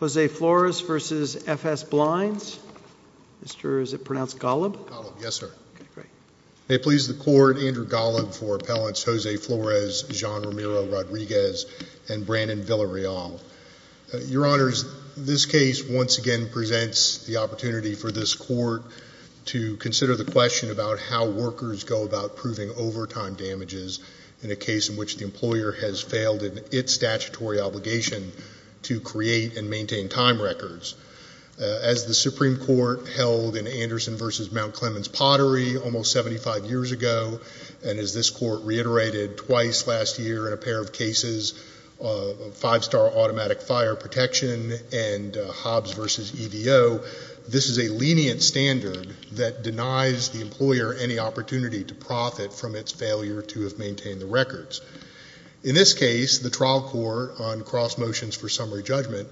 Jose Flores v. FS Blinds May it please the Court, Andrew Golub for Appellants Jose Flores, John Romero-Rodriguez, and Brandon Villareal. Your Honors, this case once again presents the opportunity for this Court to consider the question about how workers go about proving overtime damages in a case in which the employer has failed in its statutory obligation to create and maintain time records. As the Supreme Court held in Anderson v. Mount Clemens Pottery almost 75 years ago, and as this Court reiterated twice last year in a pair of cases, Five Star Automatic Fire Protection and Hobbs v. EVO, this is a lenient standard that denies the employer any opportunity to In this case, the trial court on cross motions for summary judgment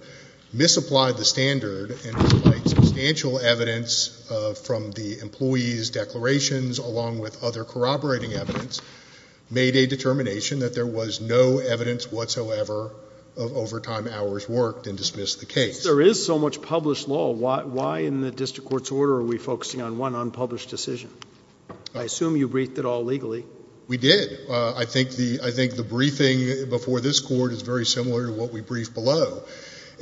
misapplied the standard and despite substantial evidence from the employee's declarations along with other corroborating evidence made a determination that there was no evidence whatsoever of overtime hours worked and dismissed the case. Since there is so much published law, why in the District Court's order are we focusing on one unpublished decision? I assume you briefed it all legally. We did. I think the briefing before this Court is very similar to what we briefed below.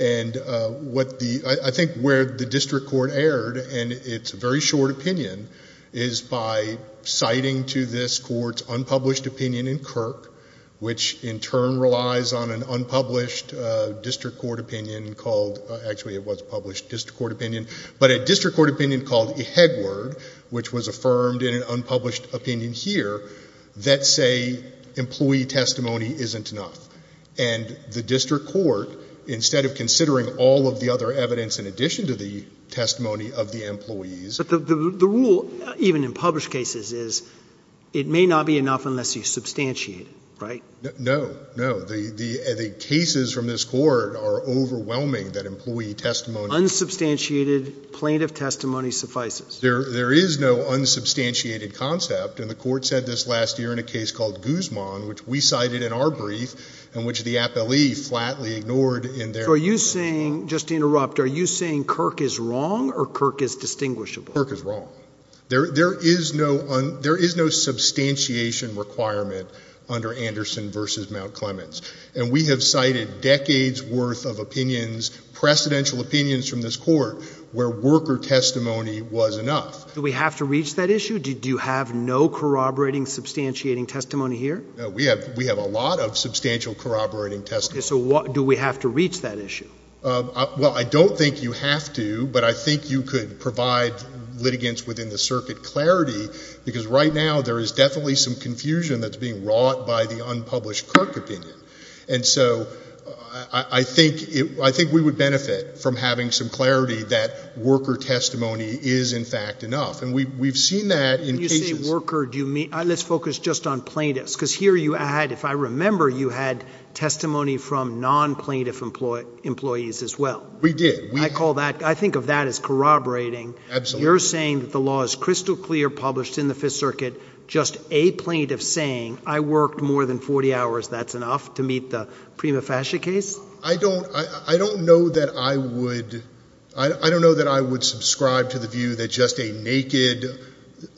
And I think where the District Court erred in its very short opinion is by citing to this Court's unpublished opinion in Kirk, which in turn relies on an unpublished District Court opinion called, actually it was a published District Court opinion, but a District Court opinion called Ehegwerd, which was affirmed in an unpublished opinion here, that say employee testimony isn't enough. And the District Court, instead of considering all of the other evidence in addition to the testimony of the employees But the rule, even in published cases, is it may not be enough unless you substantiate, right? No, no. The cases from this Court are overwhelming that employee testimony Unsubstantiated plaintiff testimony suffices. There is no unsubstantiated concept, and the Court said this last year in a case called Guzman, which we cited in our brief, in which the appellee flatly ignored in their So are you saying, just to interrupt, are you saying Kirk is wrong or Kirk is distinguishable? Kirk is wrong. There is no substantiation requirement under Anderson v. Mount Clemens. And we have cited decades worth of opinions, precedential opinions from this Court, where worker testimony was enough. Do we have to reach that issue? Do you have no corroborating, substantiating testimony here? We have a lot of substantial corroborating testimony. So do we have to reach that issue? Well, I don't think you have to, but I think you could provide litigants within the circuit clarity because right now there is definitely some confusion that's being wrought by the And so I think we would benefit from having some clarity that worker testimony is in fact enough. And we've seen that in cases When you say worker, let's focus just on plaintiffs, because here you had, if I remember, you had testimony from non-plaintiff employees as well. We did. I call that, I think of that as corroborating. You're saying that the law is crystal clear published in the Fifth Circuit, just a plaintiff saying, I worked more than 40 hours, that's enough to meet the prima facie case? I don't, I don't know that I would, I don't know that I would subscribe to the view that just a naked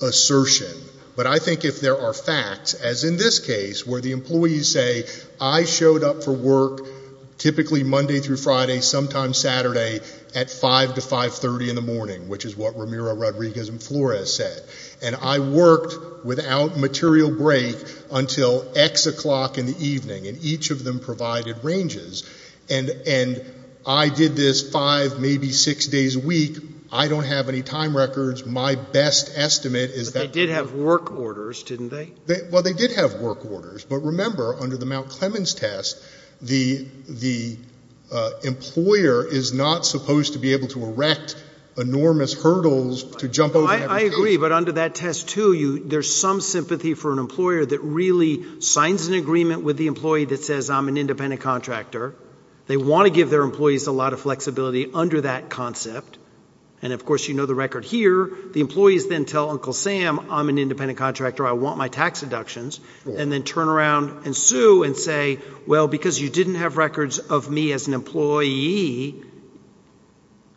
assertion. But I think if there are facts, as in this case, where the employees say, I showed up for work typically Monday through Friday, sometimes Saturday at 5 to 530 in the morning, which is what Ramiro Rodriguez and Flores said. And I worked without material break until X o'clock in the evening, and each of them provided ranges. And I did this five, maybe six days a week. I don't have any time records. My best estimate is that But they did have work orders, didn't they? Well, they did have work orders. But remember, under the Mount Clemens test, the employer is not supposed to be able to erect enormous hurdles to jump over I agree. But under that test to you, there's some sympathy for an employer that really signs an agreement with the employee that says, I'm an independent contractor. They want to give their employees a lot of flexibility under that concept. And of course, you know, the record here, the employees then tell Uncle Sam, I'm an independent contractor, I want my tax deductions, and then turn around and sue and say, well, because you didn't have records of me as an employee. We,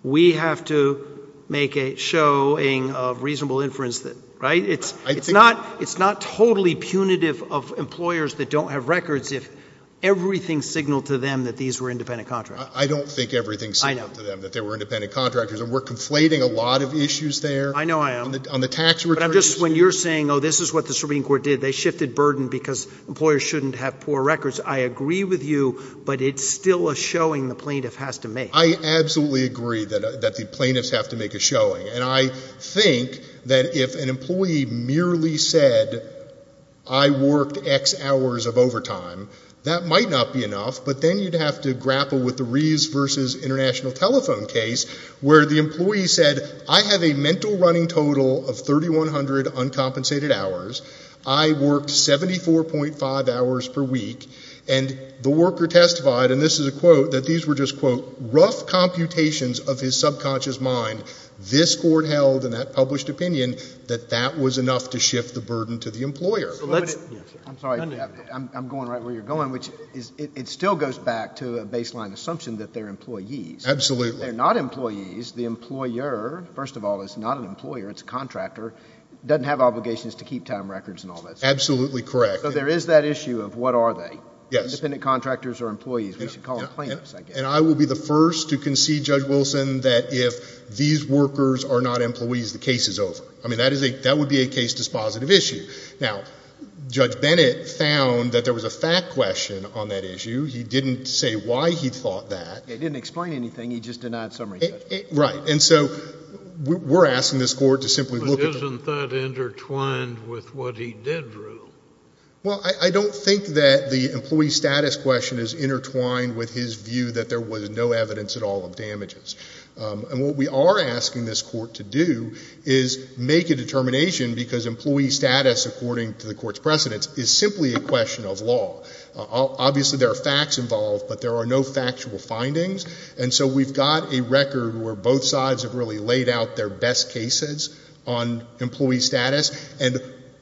we have to make a showing of reasonable inference that, right, it's, it's not, it's not totally punitive of employers that don't have records if everything signaled to them that these were independent contractors. I don't think everything signaled to them that they were independent contractors. And we're conflating a lot of issues there. I know I am. On the tax returns. But I'm just, when you're saying, oh, this is what the Supreme Court did, they shifted burden because employers shouldn't have poor records. I agree with you. But it's still a showing the plaintiff has to make. I absolutely agree that, that the plaintiffs have to make a showing. And I think that if an employee merely said, I worked X hours of overtime, that might not be enough. But then you'd have to grapple with the Reeves versus International Telephone case, where the employee said, I have a mental running total of 3,100 uncompensated hours. I worked 74.5 hours per week. And the worker testified, and this is a quote, that these were just, quote, rough computations of his subconscious mind. This Court held in that published opinion that that was enough to shift the burden to the employer. I'm sorry. I'm going right where you're going, which is, it still goes back to a baseline assumption that they're employees. Absolutely. They're not employees. The employer, first of all, is not an employer, it's a contractor, doesn't have obligations to keep time records and all that stuff. Absolutely correct. So there is that issue of what are they? Yes. Independent contractors or employees. We should call them plaintiffs, I guess. And I will be the first to concede, Judge Wilson, that if these workers are not employees, the case is over. I mean, that would be a case dispositive issue. Now, Judge Bennett found that there was a fact question on that issue. He didn't say why he thought that. He didn't explain anything. He just denied summary judgment. Right. And so we're asking this Court to simply look at the— Isn't that intertwined with what he did, Drew? Well, I don't think that the employee status question is intertwined with his view that there was no evidence at all of damages. And what we are asking this Court to do is make a determination, because employee status, according to the Court's precedents, is simply a question of law. Obviously there are facts involved, but there are no factual findings. And so we've got a record where both sides have really laid out their best cases on employee status. And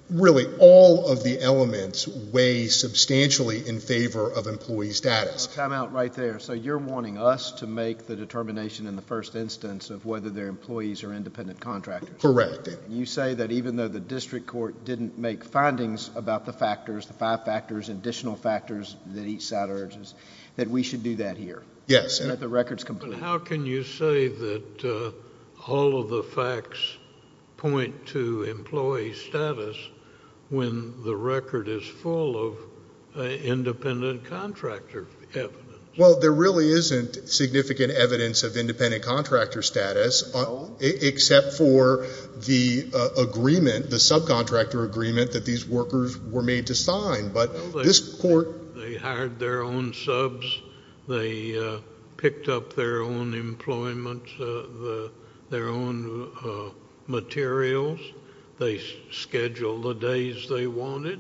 really, all of the elements weigh substantially in favor of employee status. A timeout right there. So you're wanting us to make the determination in the first instance of whether they're employees or independent contractors. Correct. You say that even though the district court didn't make findings about the factors, the five factors, additional factors that each side urges, that we should do that here. Yes. And that the record's complete. But how can you say that all of the facts point to employee status when the record is full of independent contractor evidence? Well, there really isn't significant evidence of independent contractor status, except for the agreement, the subcontractor agreement that these workers were made to sign. But this Court— They had their own subs. They picked up their own employment, their own materials. They scheduled the days they wanted.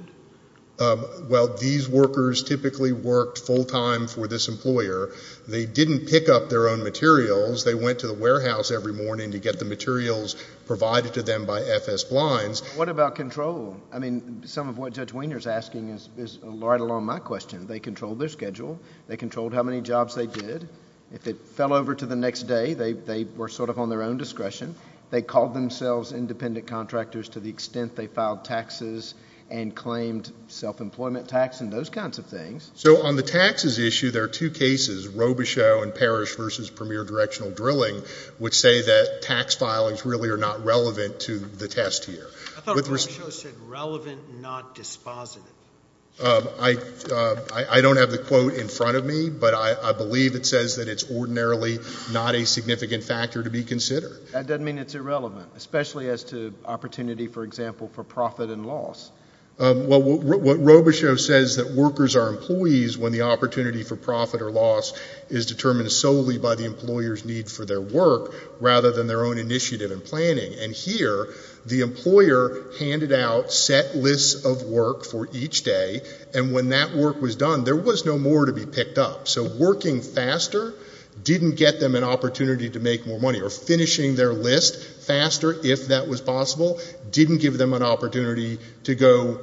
Well, these workers typically worked full time for this employer. They didn't pick up their own materials. They went to the warehouse every morning to get the materials provided to them by FS Blinds. What about control? I mean, some of what Judge Wiener's asking is right along my question. They controlled their schedule. They controlled how many jobs they did. If it fell over to the next day, they were sort of on their own discretion. They called themselves independent contractors to the extent they filed taxes and claimed self-employment tax and those kinds of things. So on the taxes issue, there are two cases, Robichaux and Parrish v. Premier Directional Drilling, which say that tax filings really are not relevant to the test here. I thought Robichaux said relevant, not dispositive. I don't have the quote in front of me, but I believe it says that it's ordinarily not a significant factor to be considered. That doesn't mean it's irrelevant, especially as to opportunity, for example, for profit and loss. Well, what Robichaux says is that workers are employees when the opportunity for profit or loss is determined solely by the employer's need for their work rather than their own initiative and planning. And here, the employer handed out set lists of work for each day, and when that work was done, there was no more to be picked up. So working faster didn't get them an opportunity to make more money. Or finishing their list faster, if that was possible, didn't give them an opportunity to go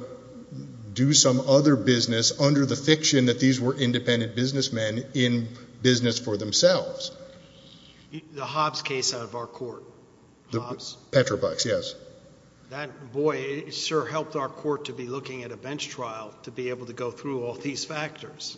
do some other business under the fiction that these were independent businessmen in business for themselves. The Hobbs case out of our court. Hobbs? Petrobucks, yes. That, boy, it sure helped our court to be looking at a bench trial to be able to go through all these factors.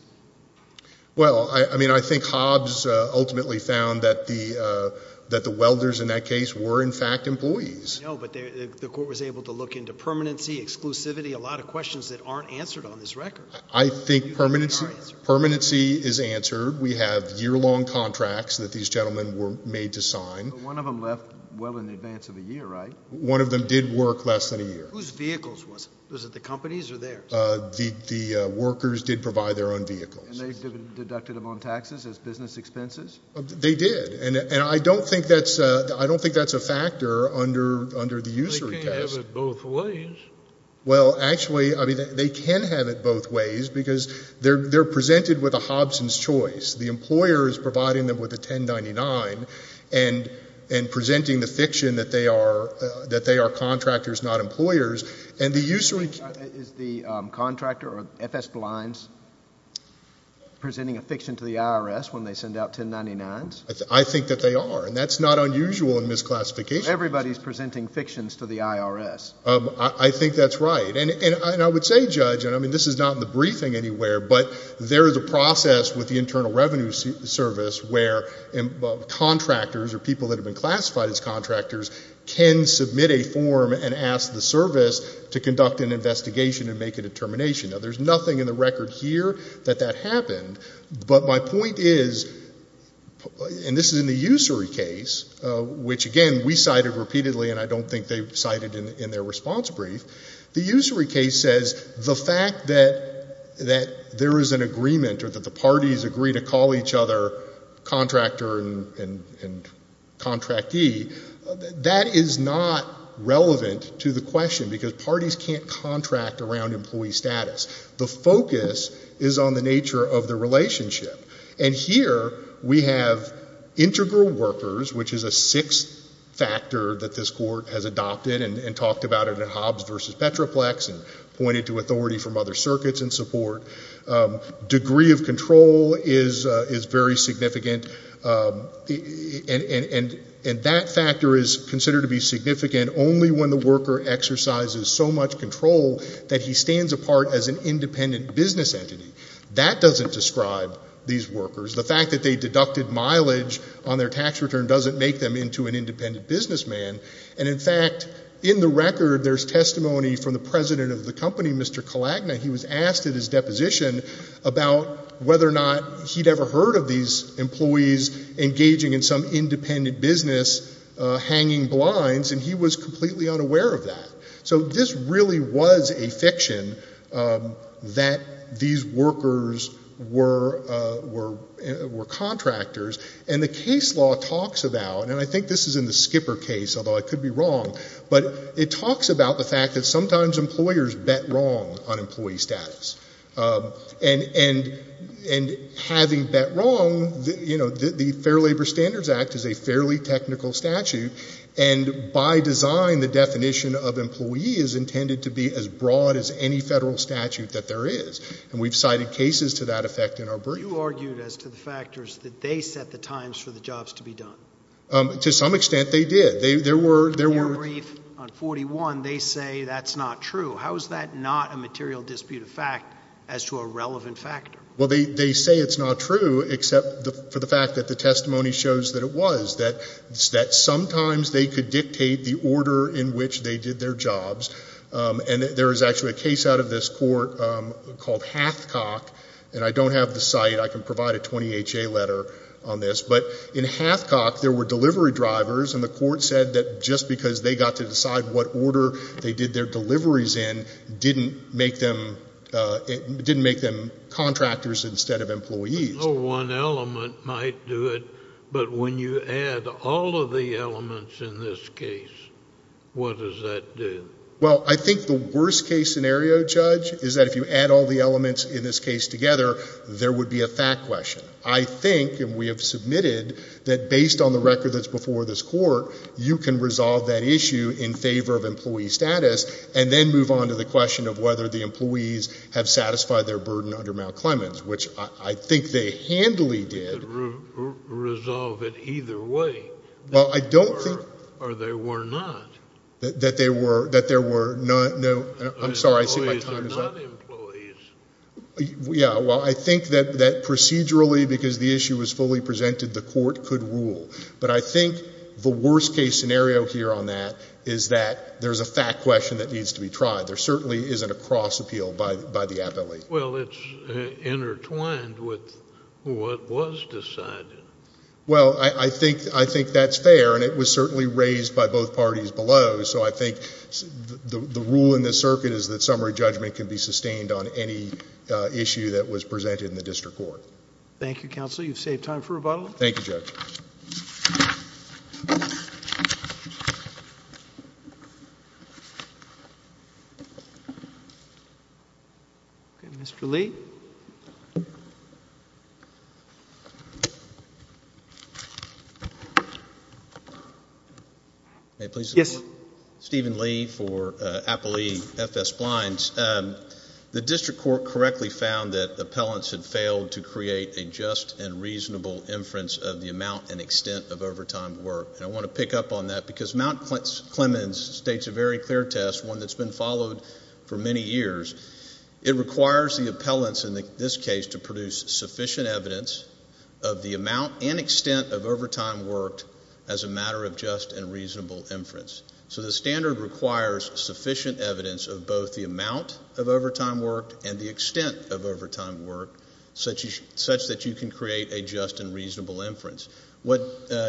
Well, I mean, I think Hobbs ultimately found that the welders in that case were, in fact, employees. No, but the court was able to look into permanency, exclusivity, a lot of questions that aren't answered on this record. I think permanency is answered. We have year-long contracts that these gentlemen were made to sign. One of them left well in advance of a year, right? One of them did work less than a year. Whose vehicles was it? Was it the company's or theirs? The workers did provide their own vehicles. And they deducted them on taxes as business expenses? They did. And I don't think that's a factor under the usury test. They can't have it both ways. Well, actually, I mean, they can have it both ways because they're presented with a Hobson's choice. The employer is providing them with a 1099 and presenting the fiction that they are contractors, not employers. Is the contractor or FS Blinds presenting a fiction to the IRS when they send out 1099s? I think that they are. And that's not unusual in misclassification. Everybody is presenting fictions to the IRS. I think that's right. And I would say, Judge, and I mean this is not in the briefing anywhere, but there is a process with the Internal Revenue Service where contractors or people that have been classified as contractors can submit a form and ask the service to conduct an investigation and make a determination. Now, there's nothing in the record here that that happened. But my point is, and this is in the usury case, which, again, we cited repeatedly and I don't think they cited in their response brief. The usury case says the fact that there is an agreement or that the parties agree to call each other contractor and contractee, that is not relevant to the question because parties can't contract around employee status. The focus is on the nature of the relationship. And here we have integral workers, which is a sixth factor that this court has adopted and talked about it in Hobbs v. Petroplex and pointed to authority from other circuits in support. Degree of control is very significant. And that factor is considered to be significant only when the worker exercises so much control that he stands apart as an independent business entity. That doesn't describe these workers. The fact that they deducted mileage on their tax return doesn't make them into an independent businessman. And, in fact, in the record there's testimony from the president of the company, Mr. Kalagna. He was asked at his deposition about whether or not he'd ever heard of these employees engaging in some independent business hanging blinds, and he was completely unaware of that. So this really was a fiction that these workers were contractors. And the case law talks about, and I think this is in the Skipper case, although I could be wrong, but it talks about the fact that sometimes employers bet wrong on employee status. And having bet wrong, you know, the Fair Labor Standards Act is a fairly technical statute, and by design the definition of employee is intended to be as broad as any federal statute that there is. And we've cited cases to that effect in our brief. You argued as to the factors that they set the times for the jobs to be done. To some extent they did. In your brief on 41, they say that's not true. How is that not a material disputed fact as to a relevant factor? Well, they say it's not true except for the fact that the testimony shows that it was, that sometimes they could dictate the order in which they did their jobs. And there is actually a case out of this court called Hathcock, and I don't have the site. I can provide a 20HA letter on this. But in Hathcock there were delivery drivers, and the court said that just because they got to decide what order they did their deliveries in didn't make them contractors instead of employees. No one element might do it, but when you add all of the elements in this case, what does that do? Well, I think the worst case scenario, Judge, is that if you add all the elements in this case together, there would be a fact question. I think, and we have submitted, that based on the record that's before this court, you can resolve that issue in favor of employee status and then move on to the question of whether the employees have satisfied their burden under Mount Clemens, which I think they handily did. You could resolve it either way. Well, I don't think. Or they were not. That there were no, I'm sorry, I see my time is up. Employees are not employees. Yeah, well, I think that procedurally, because the issue was fully presented, the court could rule. But I think the worst case scenario here on that is that there's a fact question that needs to be tried. There certainly isn't a cross appeal by the appellate. Well, it's intertwined with what was decided. Well, I think that's fair, and it was certainly raised by both parties below. So I think the rule in this circuit is that summary judgment can be sustained on any issue that was presented in the district court. Thank you, Counsel. You've saved time for rebuttal. Thank you, Judge. Thank you. Okay, Mr. Lee. May I please? Yes. Steven Lee for Applee FS Blinds. The district court correctly found that appellants had failed to create a just and reasonable inference of the amount and extent of overtime work. And I want to pick up on that because Mount Clemens states a very clear test, one that's been followed for many years. It requires the appellants in this case to produce sufficient evidence of the amount and extent of overtime work as a matter of just and reasonable inference. So the standard requires sufficient evidence of both the amount of overtime work and the extent of overtime work such that you can create a just and reasonable inference. What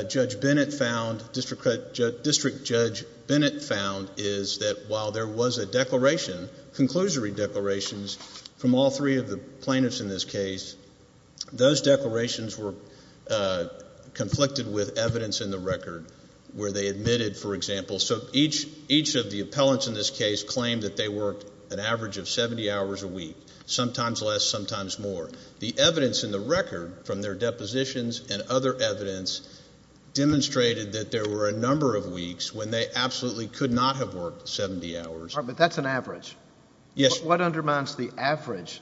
Judge Bennett found, District Judge Bennett found, is that while there was a declaration, conclusory declarations from all three of the plaintiffs in this case, those declarations were conflicted with evidence in the record where they admitted, for example. So each of the appellants in this case claimed that they worked an average of 70 hours a week, sometimes less, sometimes more. The evidence in the record from their depositions and other evidence demonstrated that there were a number of weeks when they absolutely could not have worked 70 hours. All right, but that's an average. Yes. What undermines the average?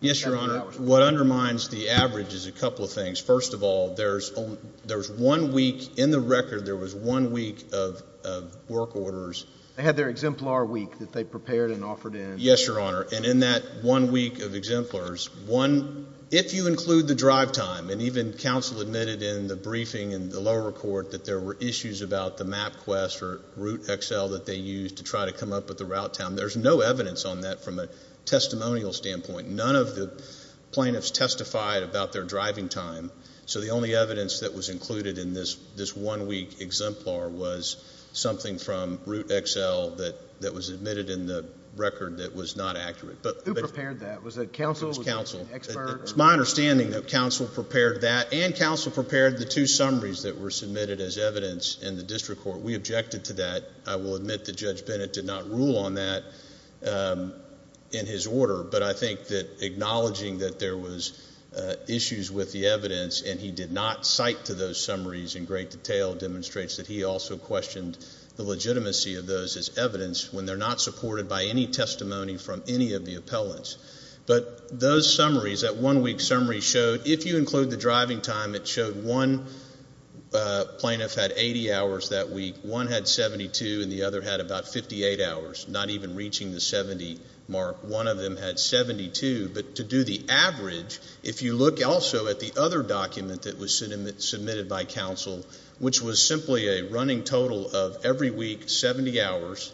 Yes, Your Honor. What undermines the average is a couple of things. First of all, there's one week in the record, there was one week of work orders. They had their exemplar week that they prepared and offered in. Yes, Your Honor, and in that one week of exemplars, if you include the drive time, and even counsel admitted in the briefing in the lower court that there were issues about the MapQuest or RouteXL that they used to try to come up with the route time, there's no evidence on that from a testimonial standpoint. None of the plaintiffs testified about their driving time, so the only evidence that was included in this one week exemplar was something from RouteXL that was admitted in the record that was not accurate. Who prepared that? Was it counsel? It was counsel. It's my understanding that counsel prepared that and counsel prepared the two summaries that were submitted as evidence in the district court. We objected to that. I will admit that Judge Bennett did not rule on that in his order, but I think that acknowledging that there was issues with the evidence and he did not cite to those summaries in great detail demonstrates that he also questioned the legitimacy of those as evidence when they're not supported by any testimony from any of the appellants. But those summaries, that one week summary showed, if you include the driving time, it showed one plaintiff had 80 hours that week, one had 72, and the other had about 58 hours, not even reaching the 70 mark. One of them had 72. But to do the average, if you look also at the other document that was submitted by counsel, which was simply a running total of every week 70 hours,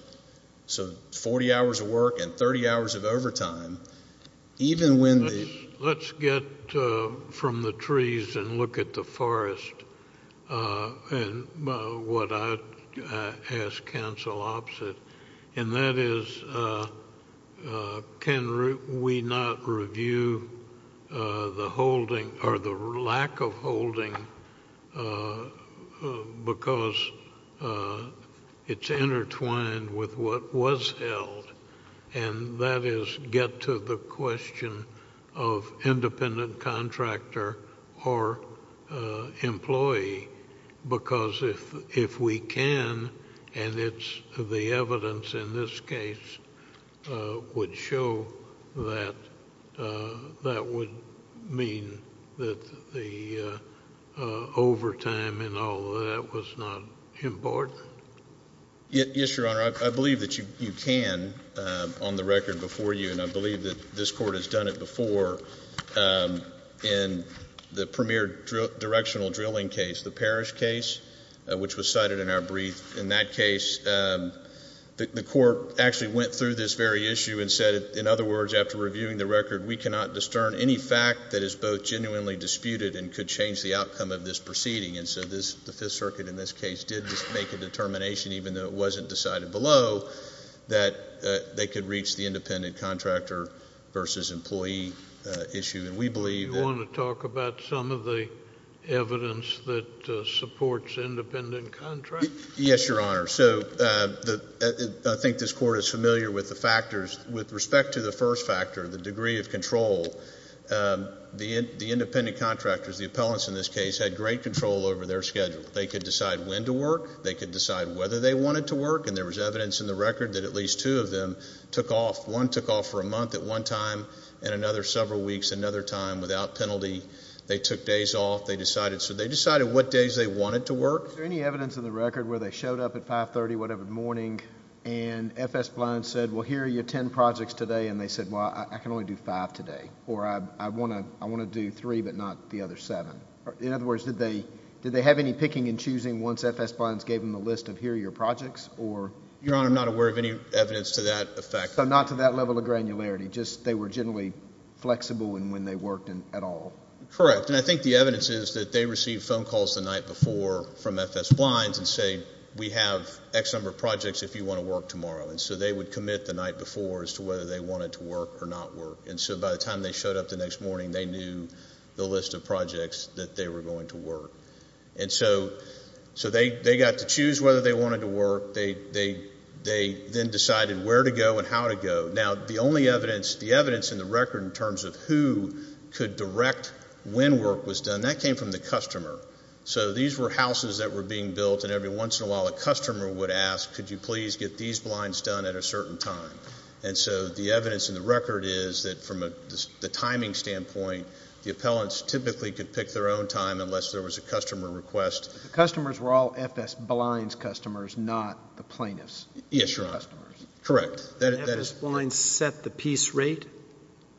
so 40 hours of work and 30 hours of overtime. Let's get from the trees and look at the forest and what I'd ask counsel opposite, and that is can we not review the holding or the lack of holding because it's intertwined with what was held, and that is get to the question of independent contractor or employee, because if we can and it's the evidence in this case would show that that would mean that the overtime and all of that was not important. Yes, Your Honor, I believe that you can on the record before you, and I believe that this court has done it before in the premier directional drilling case, the parish case, which was cited in our brief. In that case, the court actually went through this very issue and said, in other words, after reviewing the record, we cannot discern any fact that is both genuinely disputed and could change the outcome of this proceeding. And so the Fifth Circuit in this case did make a determination, even though it wasn't decided below, that they could reach the independent contractor versus employee issue, and we believe that... Do you want to talk about some of the evidence that supports independent contractor? Yes, Your Honor. So I think this court is familiar with the factors. With respect to the first factor, the degree of control, the independent contractors, the appellants in this case, had great control over their schedule. They could decide when to work. They could decide whether they wanted to work. And there was evidence in the record that at least two of them took off. One took off for a month at one time and another several weeks, another time without penalty. They took days off. They decided what days they wanted to work. Is there any evidence in the record where they showed up at 5.30 whatever morning and F.S. Blount said, well, here are your ten projects today, and they said, well, I can only do five today, or I want to do three but not the other seven? In other words, did they have any picking and choosing once F.S. Blount gave them the list of here are your projects? Your Honor, I'm not aware of any evidence to that effect. So not to that level of granularity, just they were generally flexible in when they worked at all? Correct. And I think the evidence is that they received phone calls the night before from F.S. Blount and said, we have X number of projects if you want to work tomorrow. And so they would commit the night before as to whether they wanted to work or not work. And so by the time they showed up the next morning, they knew the list of projects that they were going to work. And so they got to choose whether they wanted to work. They then decided where to go and how to go. Now, the only evidence, the evidence in the record in terms of who could direct when work was done, that came from the customer. So these were houses that were being built, and every once in a while a customer would ask, could you please get these blinds done at a certain time? And so the evidence in the record is that from the timing standpoint, the appellants typically could pick their own time unless there was a customer request. The customers were all F.S. Blinds customers, not the plaintiffs. Yes, Your Honor. Correct. F.S. Blinds set the piece rate?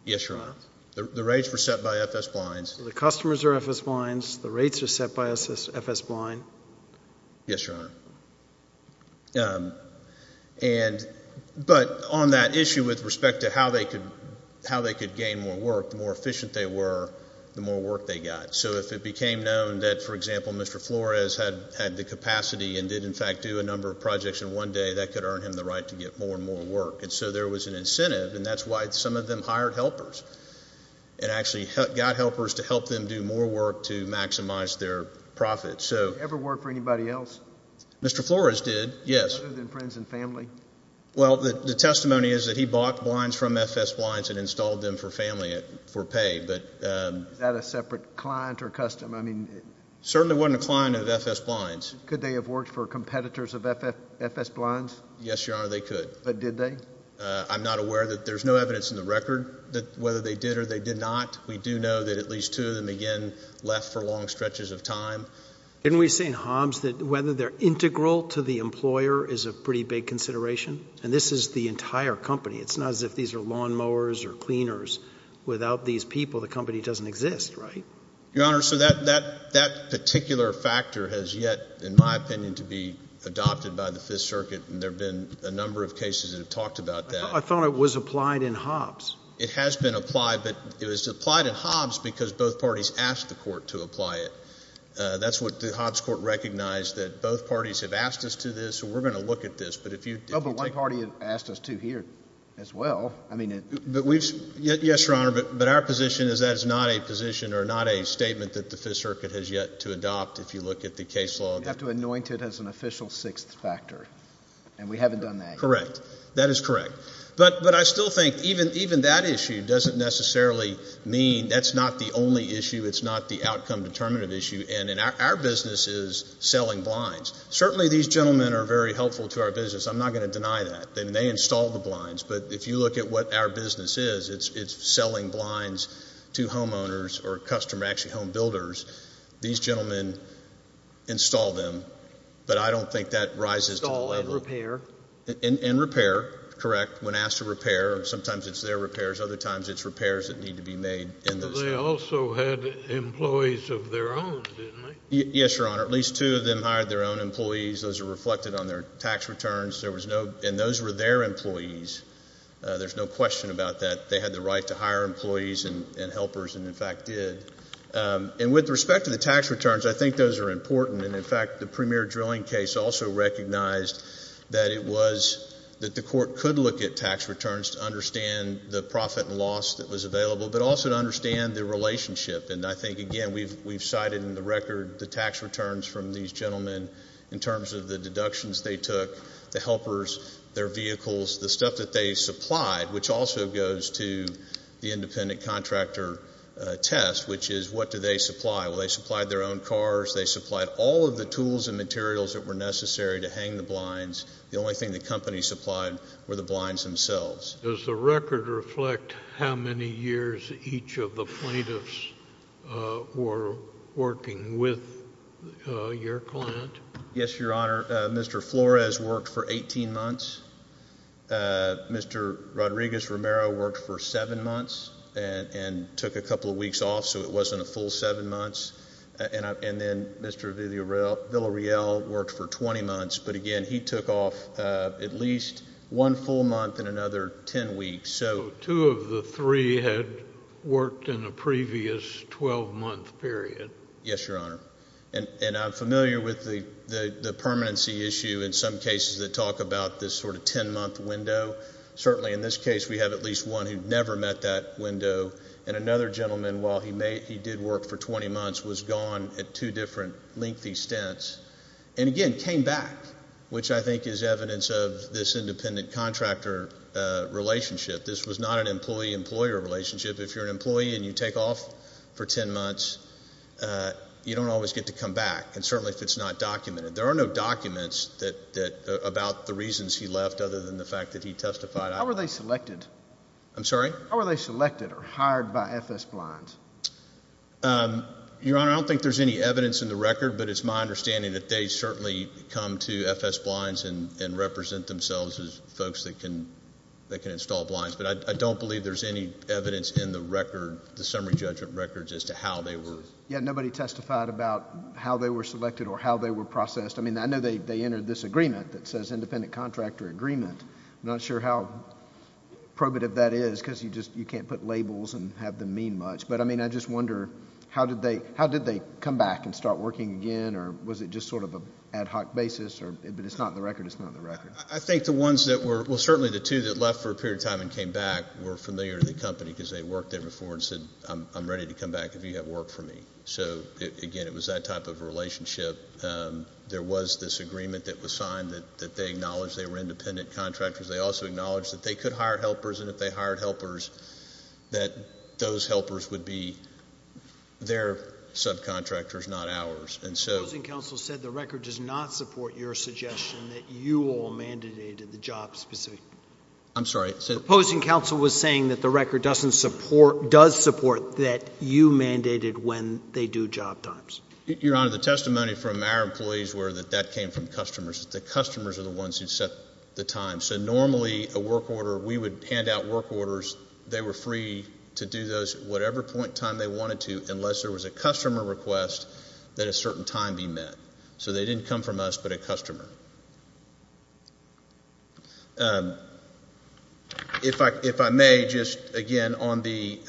Yes, Your Honor. The rates were set by F.S. Blinds. So the customers are F.S. Blinds. The rates are set by F.S. Blind. Yes, Your Honor. And but on that issue with respect to how they could gain more work, the more efficient they were, the more work they got. So if it became known that, for example, Mr. Flores had the capacity and did in fact do a number of projects in one day, that could earn him the right to get more and more work. And so there was an incentive, and that's why some of them hired helpers and actually got helpers to help them do more work to maximize their profits. Did he ever work for anybody else? Mr. Flores did, yes. Other than friends and family? Well, the testimony is that he bought blinds from F.S. Blinds and installed them for family for pay. Was that a separate client or customer? It certainly wasn't a client of F.S. Blinds. Could they have worked for competitors of F.S. Blinds? Yes, Your Honor, they could. But did they? I'm not aware that there's no evidence in the record that whether they did or they did not. We do know that at least two of them, again, left for long stretches of time. Didn't we say in Hobbs that whether they're integral to the employer is a pretty big consideration? And this is the entire company. It's not as if these are lawnmowers or cleaners. Without these people, the company doesn't exist, right? Your Honor, so that particular factor has yet, in my opinion, to be adopted by the Fifth Circuit, and there have been a number of cases that have talked about that. I thought it was applied in Hobbs. It has been applied, but it was applied in Hobbs because both parties asked the court to apply it. That's what the Hobbs court recognized, that both parties have asked us to this, so we're going to look at this. But if you take— Oh, but one party asked us to here as well. I mean— Yes, Your Honor, but our position is that is not a position or not a statement that the Fifth Circuit has yet to adopt if you look at the case law. You have to anoint it as an official sixth factor, and we haven't done that yet. Correct. That is correct. But I still think even that issue doesn't necessarily mean that's not the only issue. It's not the outcome-determinative issue, and our business is selling blinds. Certainly these gentlemen are very helpful to our business. I'm not going to deny that. They may install the blinds, but if you look at what our business is, it's selling blinds to homeowners or customer—actually home builders. These gentlemen install them, but I don't think that rises to the level— Install and repair. And repair. Correct. When asked to repair, sometimes it's their repairs. Other times it's repairs that need to be made. But they also had employees of their own, didn't they? Yes, Your Honor. At least two of them hired their own employees. Those are reflected on their tax returns. There was no—and those were their employees. There's no question about that. They had the right to hire employees and helpers and, in fact, did. And with respect to the tax returns, I think those are important. And, in fact, the premier drilling case also recognized that it was— that the court could look at tax returns to understand the profit and loss that was available, but also to understand the relationship. And I think, again, we've cited in the record the tax returns from these gentlemen in terms of the deductions they took, the helpers, their vehicles, the stuff that they supplied, which also goes to the independent contractor test, which is what do they supply. Well, they supplied their own cars. They supplied all of the tools and materials that were necessary to hang the blinds. The only thing the company supplied were the blinds themselves. Does the record reflect how many years each of the plaintiffs were working with your client? Yes, Your Honor. Mr. Flores worked for 18 months. Mr. Rodriguez-Romero worked for seven months and took a couple of weeks off, so it wasn't a full seven months. And then Mr. Villarreal worked for 20 months. But, again, he took off at least one full month and another 10 weeks. So two of the three had worked in a previous 12-month period. Yes, Your Honor. And I'm familiar with the permanency issue in some cases that talk about this sort of 10-month window. Certainly in this case we have at least one who never met that window. And another gentleman, while he did work for 20 months, was gone at two different lengthy stints and, again, came back, which I think is evidence of this independent contractor relationship. This was not an employee-employer relationship. If you're an employee and you take off for 10 months, you don't always get to come back, and certainly if it's not documented. There are no documents about the reasons he left other than the fact that he testified. How were they selected? I'm sorry? How were they selected or hired by FS-Blinds? Your Honor, I don't think there's any evidence in the record, but it's my understanding that they certainly come to FS-Blinds and represent themselves as folks that can install blinds. But I don't believe there's any evidence in the summary judgment records as to how they were. Yeah, nobody testified about how they were selected or how they were processed. I mean, I know they entered this agreement that says independent contractor agreement. I'm not sure how probative that is because you can't put labels and have them mean much. But, I mean, I just wonder, how did they come back and start working again, or was it just sort of an ad hoc basis? But it's not in the record. It's not in the record. I think the ones that were, well, certainly the two that left for a period of time and came back were familiar to the company because they worked there before and said, I'm ready to come back if you have work for me. So, again, it was that type of relationship. There was this agreement that was signed that they acknowledged they were independent contractors. They also acknowledged that they could hire helpers, and if they hired helpers that those helpers would be their subcontractors, not ours. The opposing counsel said the record does not support your suggestion that you all mandated the job specific. I'm sorry? The opposing counsel was saying that the record does support that you mandated when they do job times. Your Honor, the testimony from our employees were that that came from customers. The customers are the ones who set the time. So normally a work order, we would hand out work orders. They were free to do those at whatever point in time they wanted to unless there was a customer request that a certain time be met. So they didn't come from us but a customer. If I may, just again on the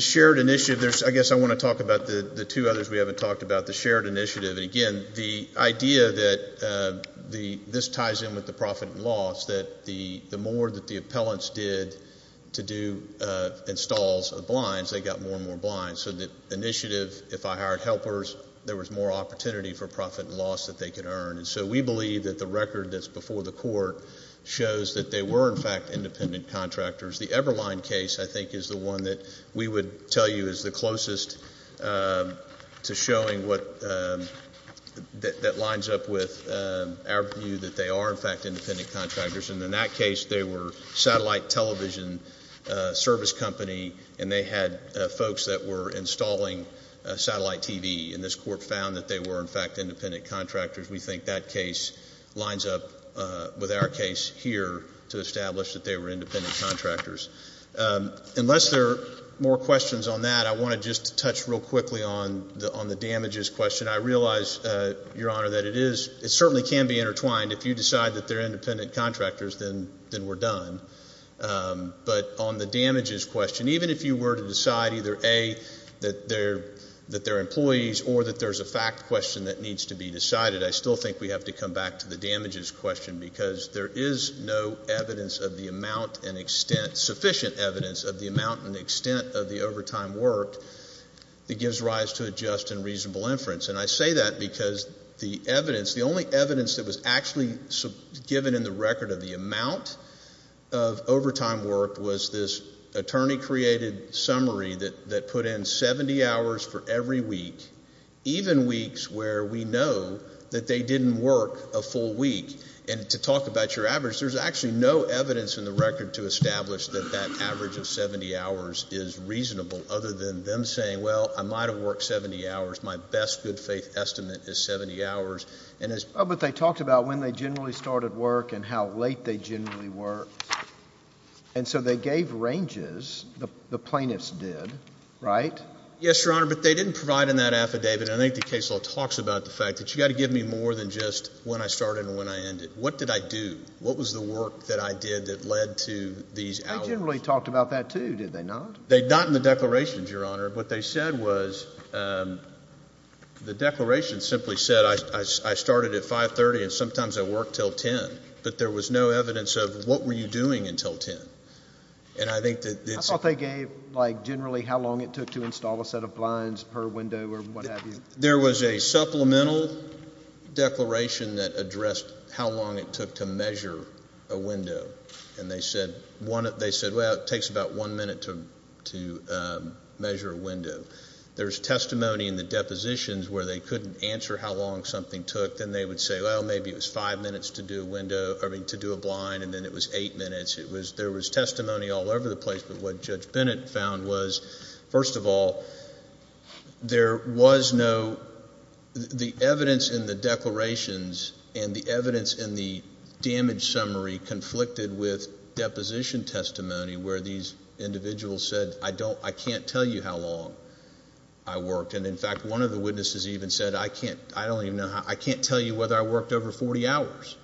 shared initiative, I guess I want to talk about the two others we haven't talked about, the shared initiative. Again, the idea that this ties in with the profit and loss, that the more that the appellants did to do installs of blinds, they got more and more blinds. So the initiative, if I hired helpers, there was more opportunity for profit and loss that they could earn. And so we believe that the record that's before the court shows that they were, in fact, independent contractors. The Everline case, I think, is the one that we would tell you is the closest to showing what that lines up with our view that they are, in fact, independent contractors. And in that case, they were satellite television service company, and they had folks that were installing satellite TV. And this court found that they were, in fact, independent contractors. We think that case lines up with our case here to establish that they were independent contractors. Unless there are more questions on that, I want to just touch real quickly on the damages question. I realize, Your Honor, that it certainly can be intertwined. If you decide that they're independent contractors, then we're done. But on the damages question, even if you were to decide either, A, that they're employees or that there's a fact question that needs to be decided, I still think we have to come back to the damages question because there is no evidence of the amount and extent, sufficient evidence of the amount and extent of the overtime work that gives rise to a just and reasonable inference. And I say that because the evidence, the only evidence that was actually given in the record of the amount of overtime work was this attorney-created summary that put in 70 hours for every week, even weeks where we know that they didn't work a full week. And to talk about your average, there's actually no evidence in the record to establish that that average of 70 hours is reasonable other than them saying, well, I might have worked 70 hours. My best good-faith estimate is 70 hours. But they talked about when they generally started work and how late they generally worked. And so they gave ranges. The plaintiffs did, right? Yes, Your Honor, but they didn't provide in that affidavit. And I think the case law talks about the fact that you've got to give me more than just when I started and when I ended. What did I do? What was the work that I did that led to these hours? They generally talked about that, too, did they not? Not in the declarations, Your Honor. What they said was the declaration simply said I started at 5.30 and sometimes I worked until 10. But there was no evidence of what were you doing until 10. I thought they gave generally how long it took to install a set of blinds per window or what have you. There was a supplemental declaration that addressed how long it took to measure a window. And they said, well, it takes about one minute to measure a window. There's testimony in the depositions where they couldn't answer how long something took. Then they would say, well, maybe it was five minutes to do a blind and then it was eight minutes. There was testimony all over the place. But what Judge Bennett found was, first of all, there was no the evidence in the declarations and the evidence in the damage summary conflicted with deposition testimony where these individuals said, I can't tell you how long I worked. And, in fact, one of the witnesses even said, I can't tell you whether I worked over 40 hours.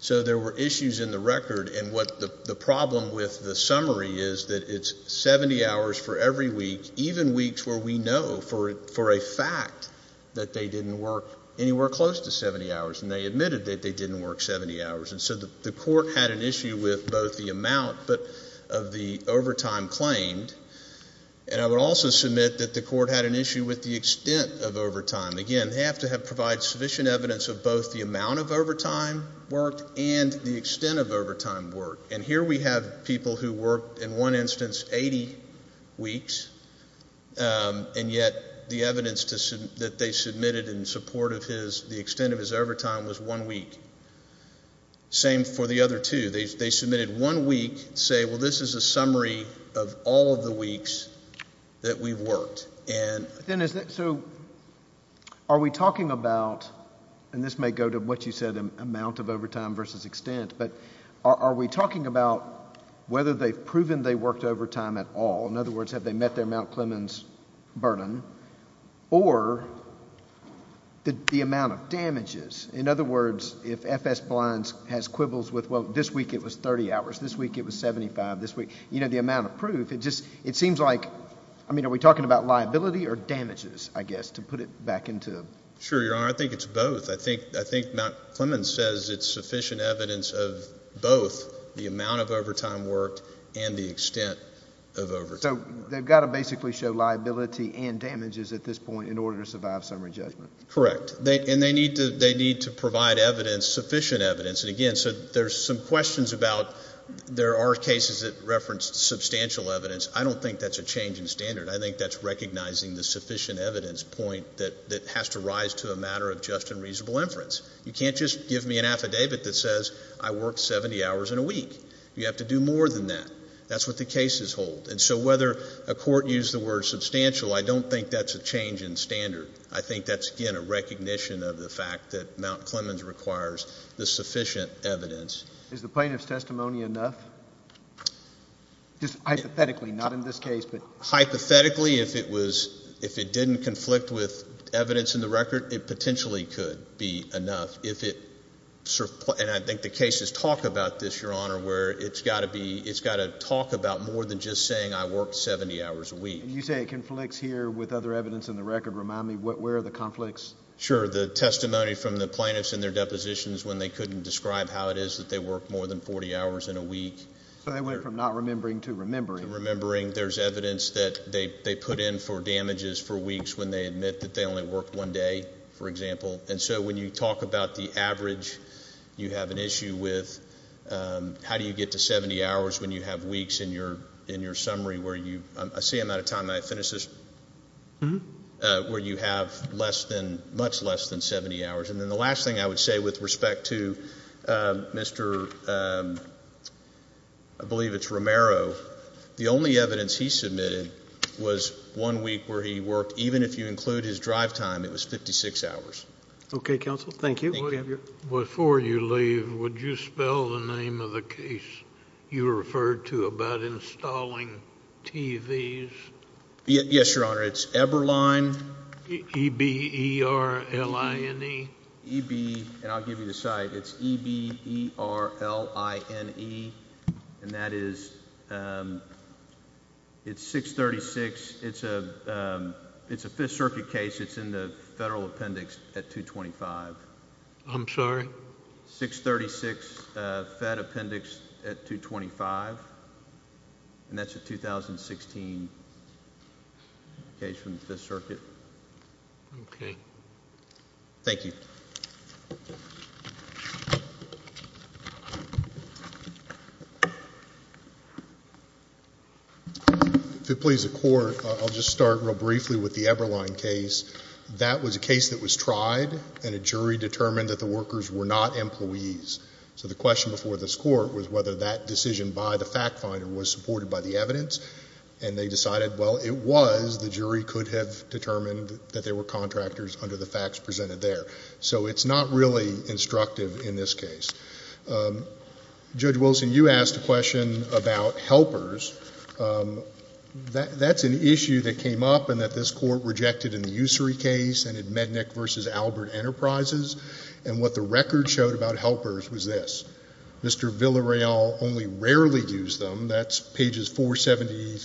So there were issues in the record. And the problem with the summary is that it's 70 hours for every week, even weeks where we know for a fact that they didn't work anywhere close to 70 hours, and they admitted that they didn't work 70 hours. And so the court had an issue with both the amount of the overtime claimed, and I would also submit that the court had an issue with the extent of overtime. Again, they have to provide sufficient evidence of both the amount of overtime worked and the extent of overtime worked. And here we have people who worked, in one instance, 80 weeks, and yet the evidence that they submitted in support of the extent of his overtime was one week. Same for the other two. They submitted one week to say, well, this is a summary of all of the weeks that we've worked. So are we talking about, and this may go to what you said, amount of overtime versus extent, but are we talking about whether they've proven they worked overtime at all? In other words, have they met their Mount Clemens burden? Or the amount of damages? In other words, if FS-Blinds has quibbles with, well, this week it was 30 hours, this week it was 75, this week, you know, the amount of proof, it seems like, I mean, are we talking about liability or damages, I guess, to put it back into? Sure, Your Honor. I think it's both. I think Mount Clemens says it's sufficient evidence of both the amount of overtime worked and the extent of overtime. So they've got to basically show liability and damages at this point in order to survive summary judgment. Correct. And they need to provide evidence, sufficient evidence. And, again, so there's some questions about there are cases that reference substantial evidence. I don't think that's a change in standard. I think that's recognizing the sufficient evidence point that has to rise to a matter of just and reasonable inference. You can't just give me an affidavit that says I worked 70 hours in a week. You have to do more than that. That's what the cases hold. And so whether a court used the word substantial, I don't think that's a change in standard. I think that's, again, a recognition of the fact that Mount Clemens requires the sufficient evidence. Is the plaintiff's testimony enough? Just hypothetically, not in this case. Hypothetically, if it didn't conflict with evidence in the record, it potentially could be enough. And I think the cases talk about this, Your Honor, where it's got to talk about more than just saying I worked 70 hours a week. You say it conflicts here with other evidence in the record. Remind me, where are the conflicts? Sure. The testimony from the plaintiffs in their depositions when they couldn't describe how it is that they worked more than 40 hours in a week. So they went from not remembering to remembering. To remembering. There's evidence that they put in for damages for weeks when they admit that they only worked one day, for example. And so when you talk about the average you have an issue with, how do you get to 70 hours when you have weeks in your summary where you – I see I'm out of time. May I finish this? Where you have less than – much less than 70 hours. And then the last thing I would say with respect to Mr. – I believe it's Romero. The only evidence he submitted was one week where he worked, even if you include his drive time, it was 56 hours. Okay, counsel. Thank you. Before you leave, would you spell the name of the case you referred to about installing TVs? Yes, Your Honor. It's Eberline. E-B-E-R-L-I-N-E. E-B – and I'll give you the site. It's E-B-E-R-L-I-N-E. And that is – it's 636. It's a Fifth Circuit case. It's in the federal appendix at 225. I'm sorry? 636 Fed Appendix at 225. And that's a 2016 case from the Fifth Circuit. Okay. Thank you. If it pleases the Court, I'll just start real briefly with the Eberline case. That was a case that was tried, and a jury determined that the workers were not employees. So the question before this Court was whether that decision by the fact finder was supported by the evidence, and they decided, well, it was. The jury could have determined that there were contractors under the facts presented there. So it's not really instructive in this case. Judge Wilson, you asked a question about helpers. That's an issue that came up and that this Court rejected in the Ussery case and in Mednick v. Albert Enterprises. And what the record showed about helpers was this. Mr. Villareal only rarely used them. That's pages 473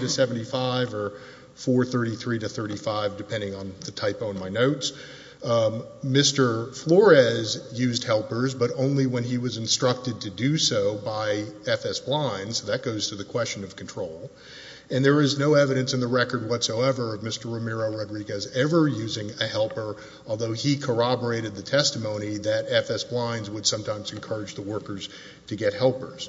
to 75 or 433 to 35, depending on the typo in my notes. Mr. Flores used helpers, but only when he was instructed to do so by FS Blinds. That goes to the question of control. And there is no evidence in the record whatsoever of Mr. Romero Rodriguez ever using a helper, although he corroborated the testimony that FS Blinds would sometimes encourage the workers to get helpers.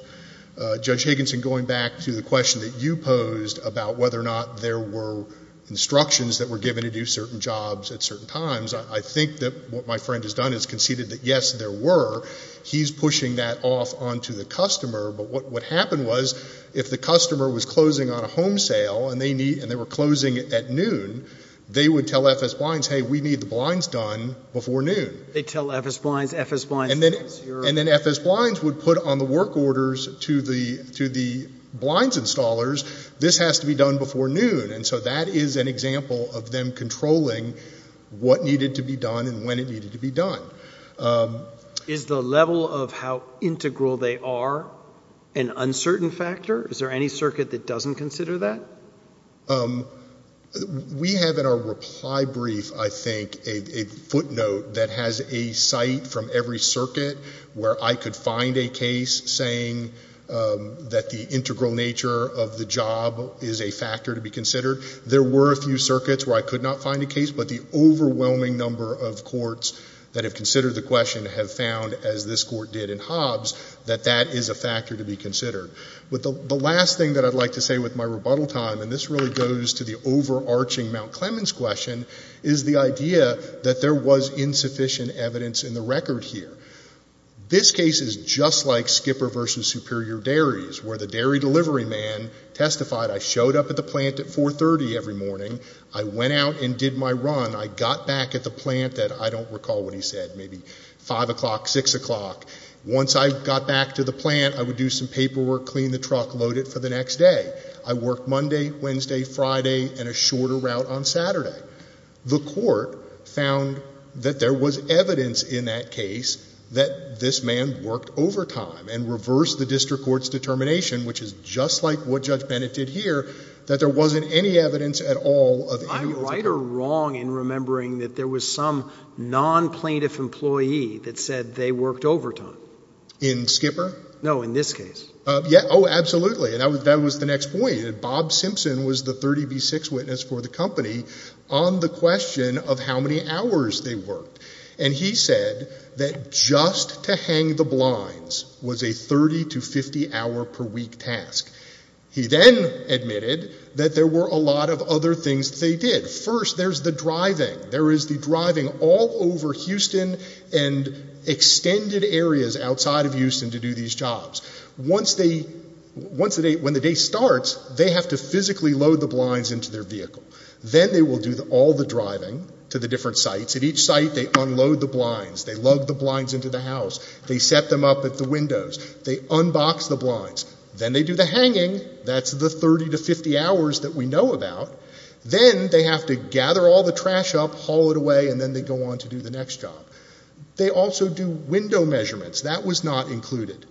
Judge Higginson, going back to the question that you posed about whether or not there were instructions that were given to do certain jobs at certain times, I think that what my friend has done is conceded that, yes, there were. He's pushing that off onto the customer. But what happened was if the customer was closing on a home sale and they were closing at noon, they would tell FS Blinds, hey, we need the blinds done before noon. They'd tell FS Blinds, FS Blinds would put on the work orders to the blinds installers, this has to be done before noon. And so that is an example of them controlling what needed to be done and when it needed to be done. Is the level of how integral they are an uncertain factor? Is there any circuit that doesn't consider that? We have in our reply brief, I think, a footnote that has a site from every circuit where I could find a case saying that the integral nature of the job is a factor to be considered. There were a few circuits where I could not find a case, but the overwhelming number of courts that have considered the question have found, as this court did in Hobbs, that that is a factor to be considered. But the last thing that I'd like to say with my rebuttal time, and this really goes to the overarching Mount Clemens question, is the idea that there was insufficient evidence in the record here. This case is just like Skipper v. Superior Dairies, where the dairy delivery man testified, I showed up at the plant at 4.30 every morning, I went out and did my run, I got back at the plant at, I don't recall what he said, maybe 5 o'clock, 6 o'clock. Once I got back to the plant, I would do some paperwork, clean the truck, load it for the next day. I worked Monday, Wednesday, Friday, and a shorter route on Saturday. The court found that there was evidence in that case that this man worked overtime and reversed the district court's determination, which is just like what Judge Bennett did here, that there wasn't any evidence at all of any of those occurrences. I'm right or wrong in remembering that there was some non-plaintiff employee that said they worked overtime. In Skipper? No, in this case. Oh, absolutely, and that was the next point. Bob Simpson was the 30B6 witness for the company on the question of how many hours they worked, and he said that just to hang the blinds was a 30 to 50 hour per week task. He then admitted that there were a lot of other things they did. First, there's the driving. They're driving all over Houston and extended areas outside of Houston to do these jobs. Once the day starts, they have to physically load the blinds into their vehicle. Then they will do all the driving to the different sites. At each site, they unload the blinds. They lug the blinds into the house. They set them up at the windows. They unbox the blinds. Then they do the hanging. That's the 30 to 50 hours that we know about. Then they have to gather all the trash up, haul it away, and then they go on to do the next job. They also do window measurements. That was not included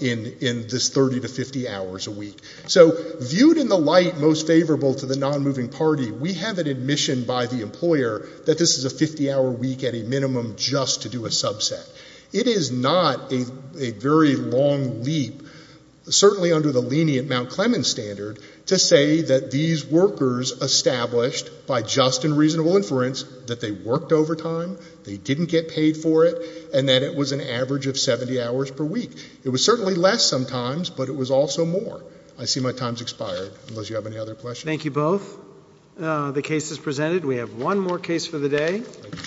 in this 30 to 50 hours a week. So viewed in the light most favorable to the non-moving party, we have an admission by the employer that this is a 50-hour week at a minimum just to do a subset. It is not a very long leap, certainly under the lenient Mount Clemens standard, to say that these workers established by just and reasonable inference that they worked overtime, they didn't get paid for it, and that it was an average of 70 hours per week. It was certainly less sometimes, but it was also more. I see my time has expired, unless you have any other questions. Thank you both. The case is presented. We have one more case for the day.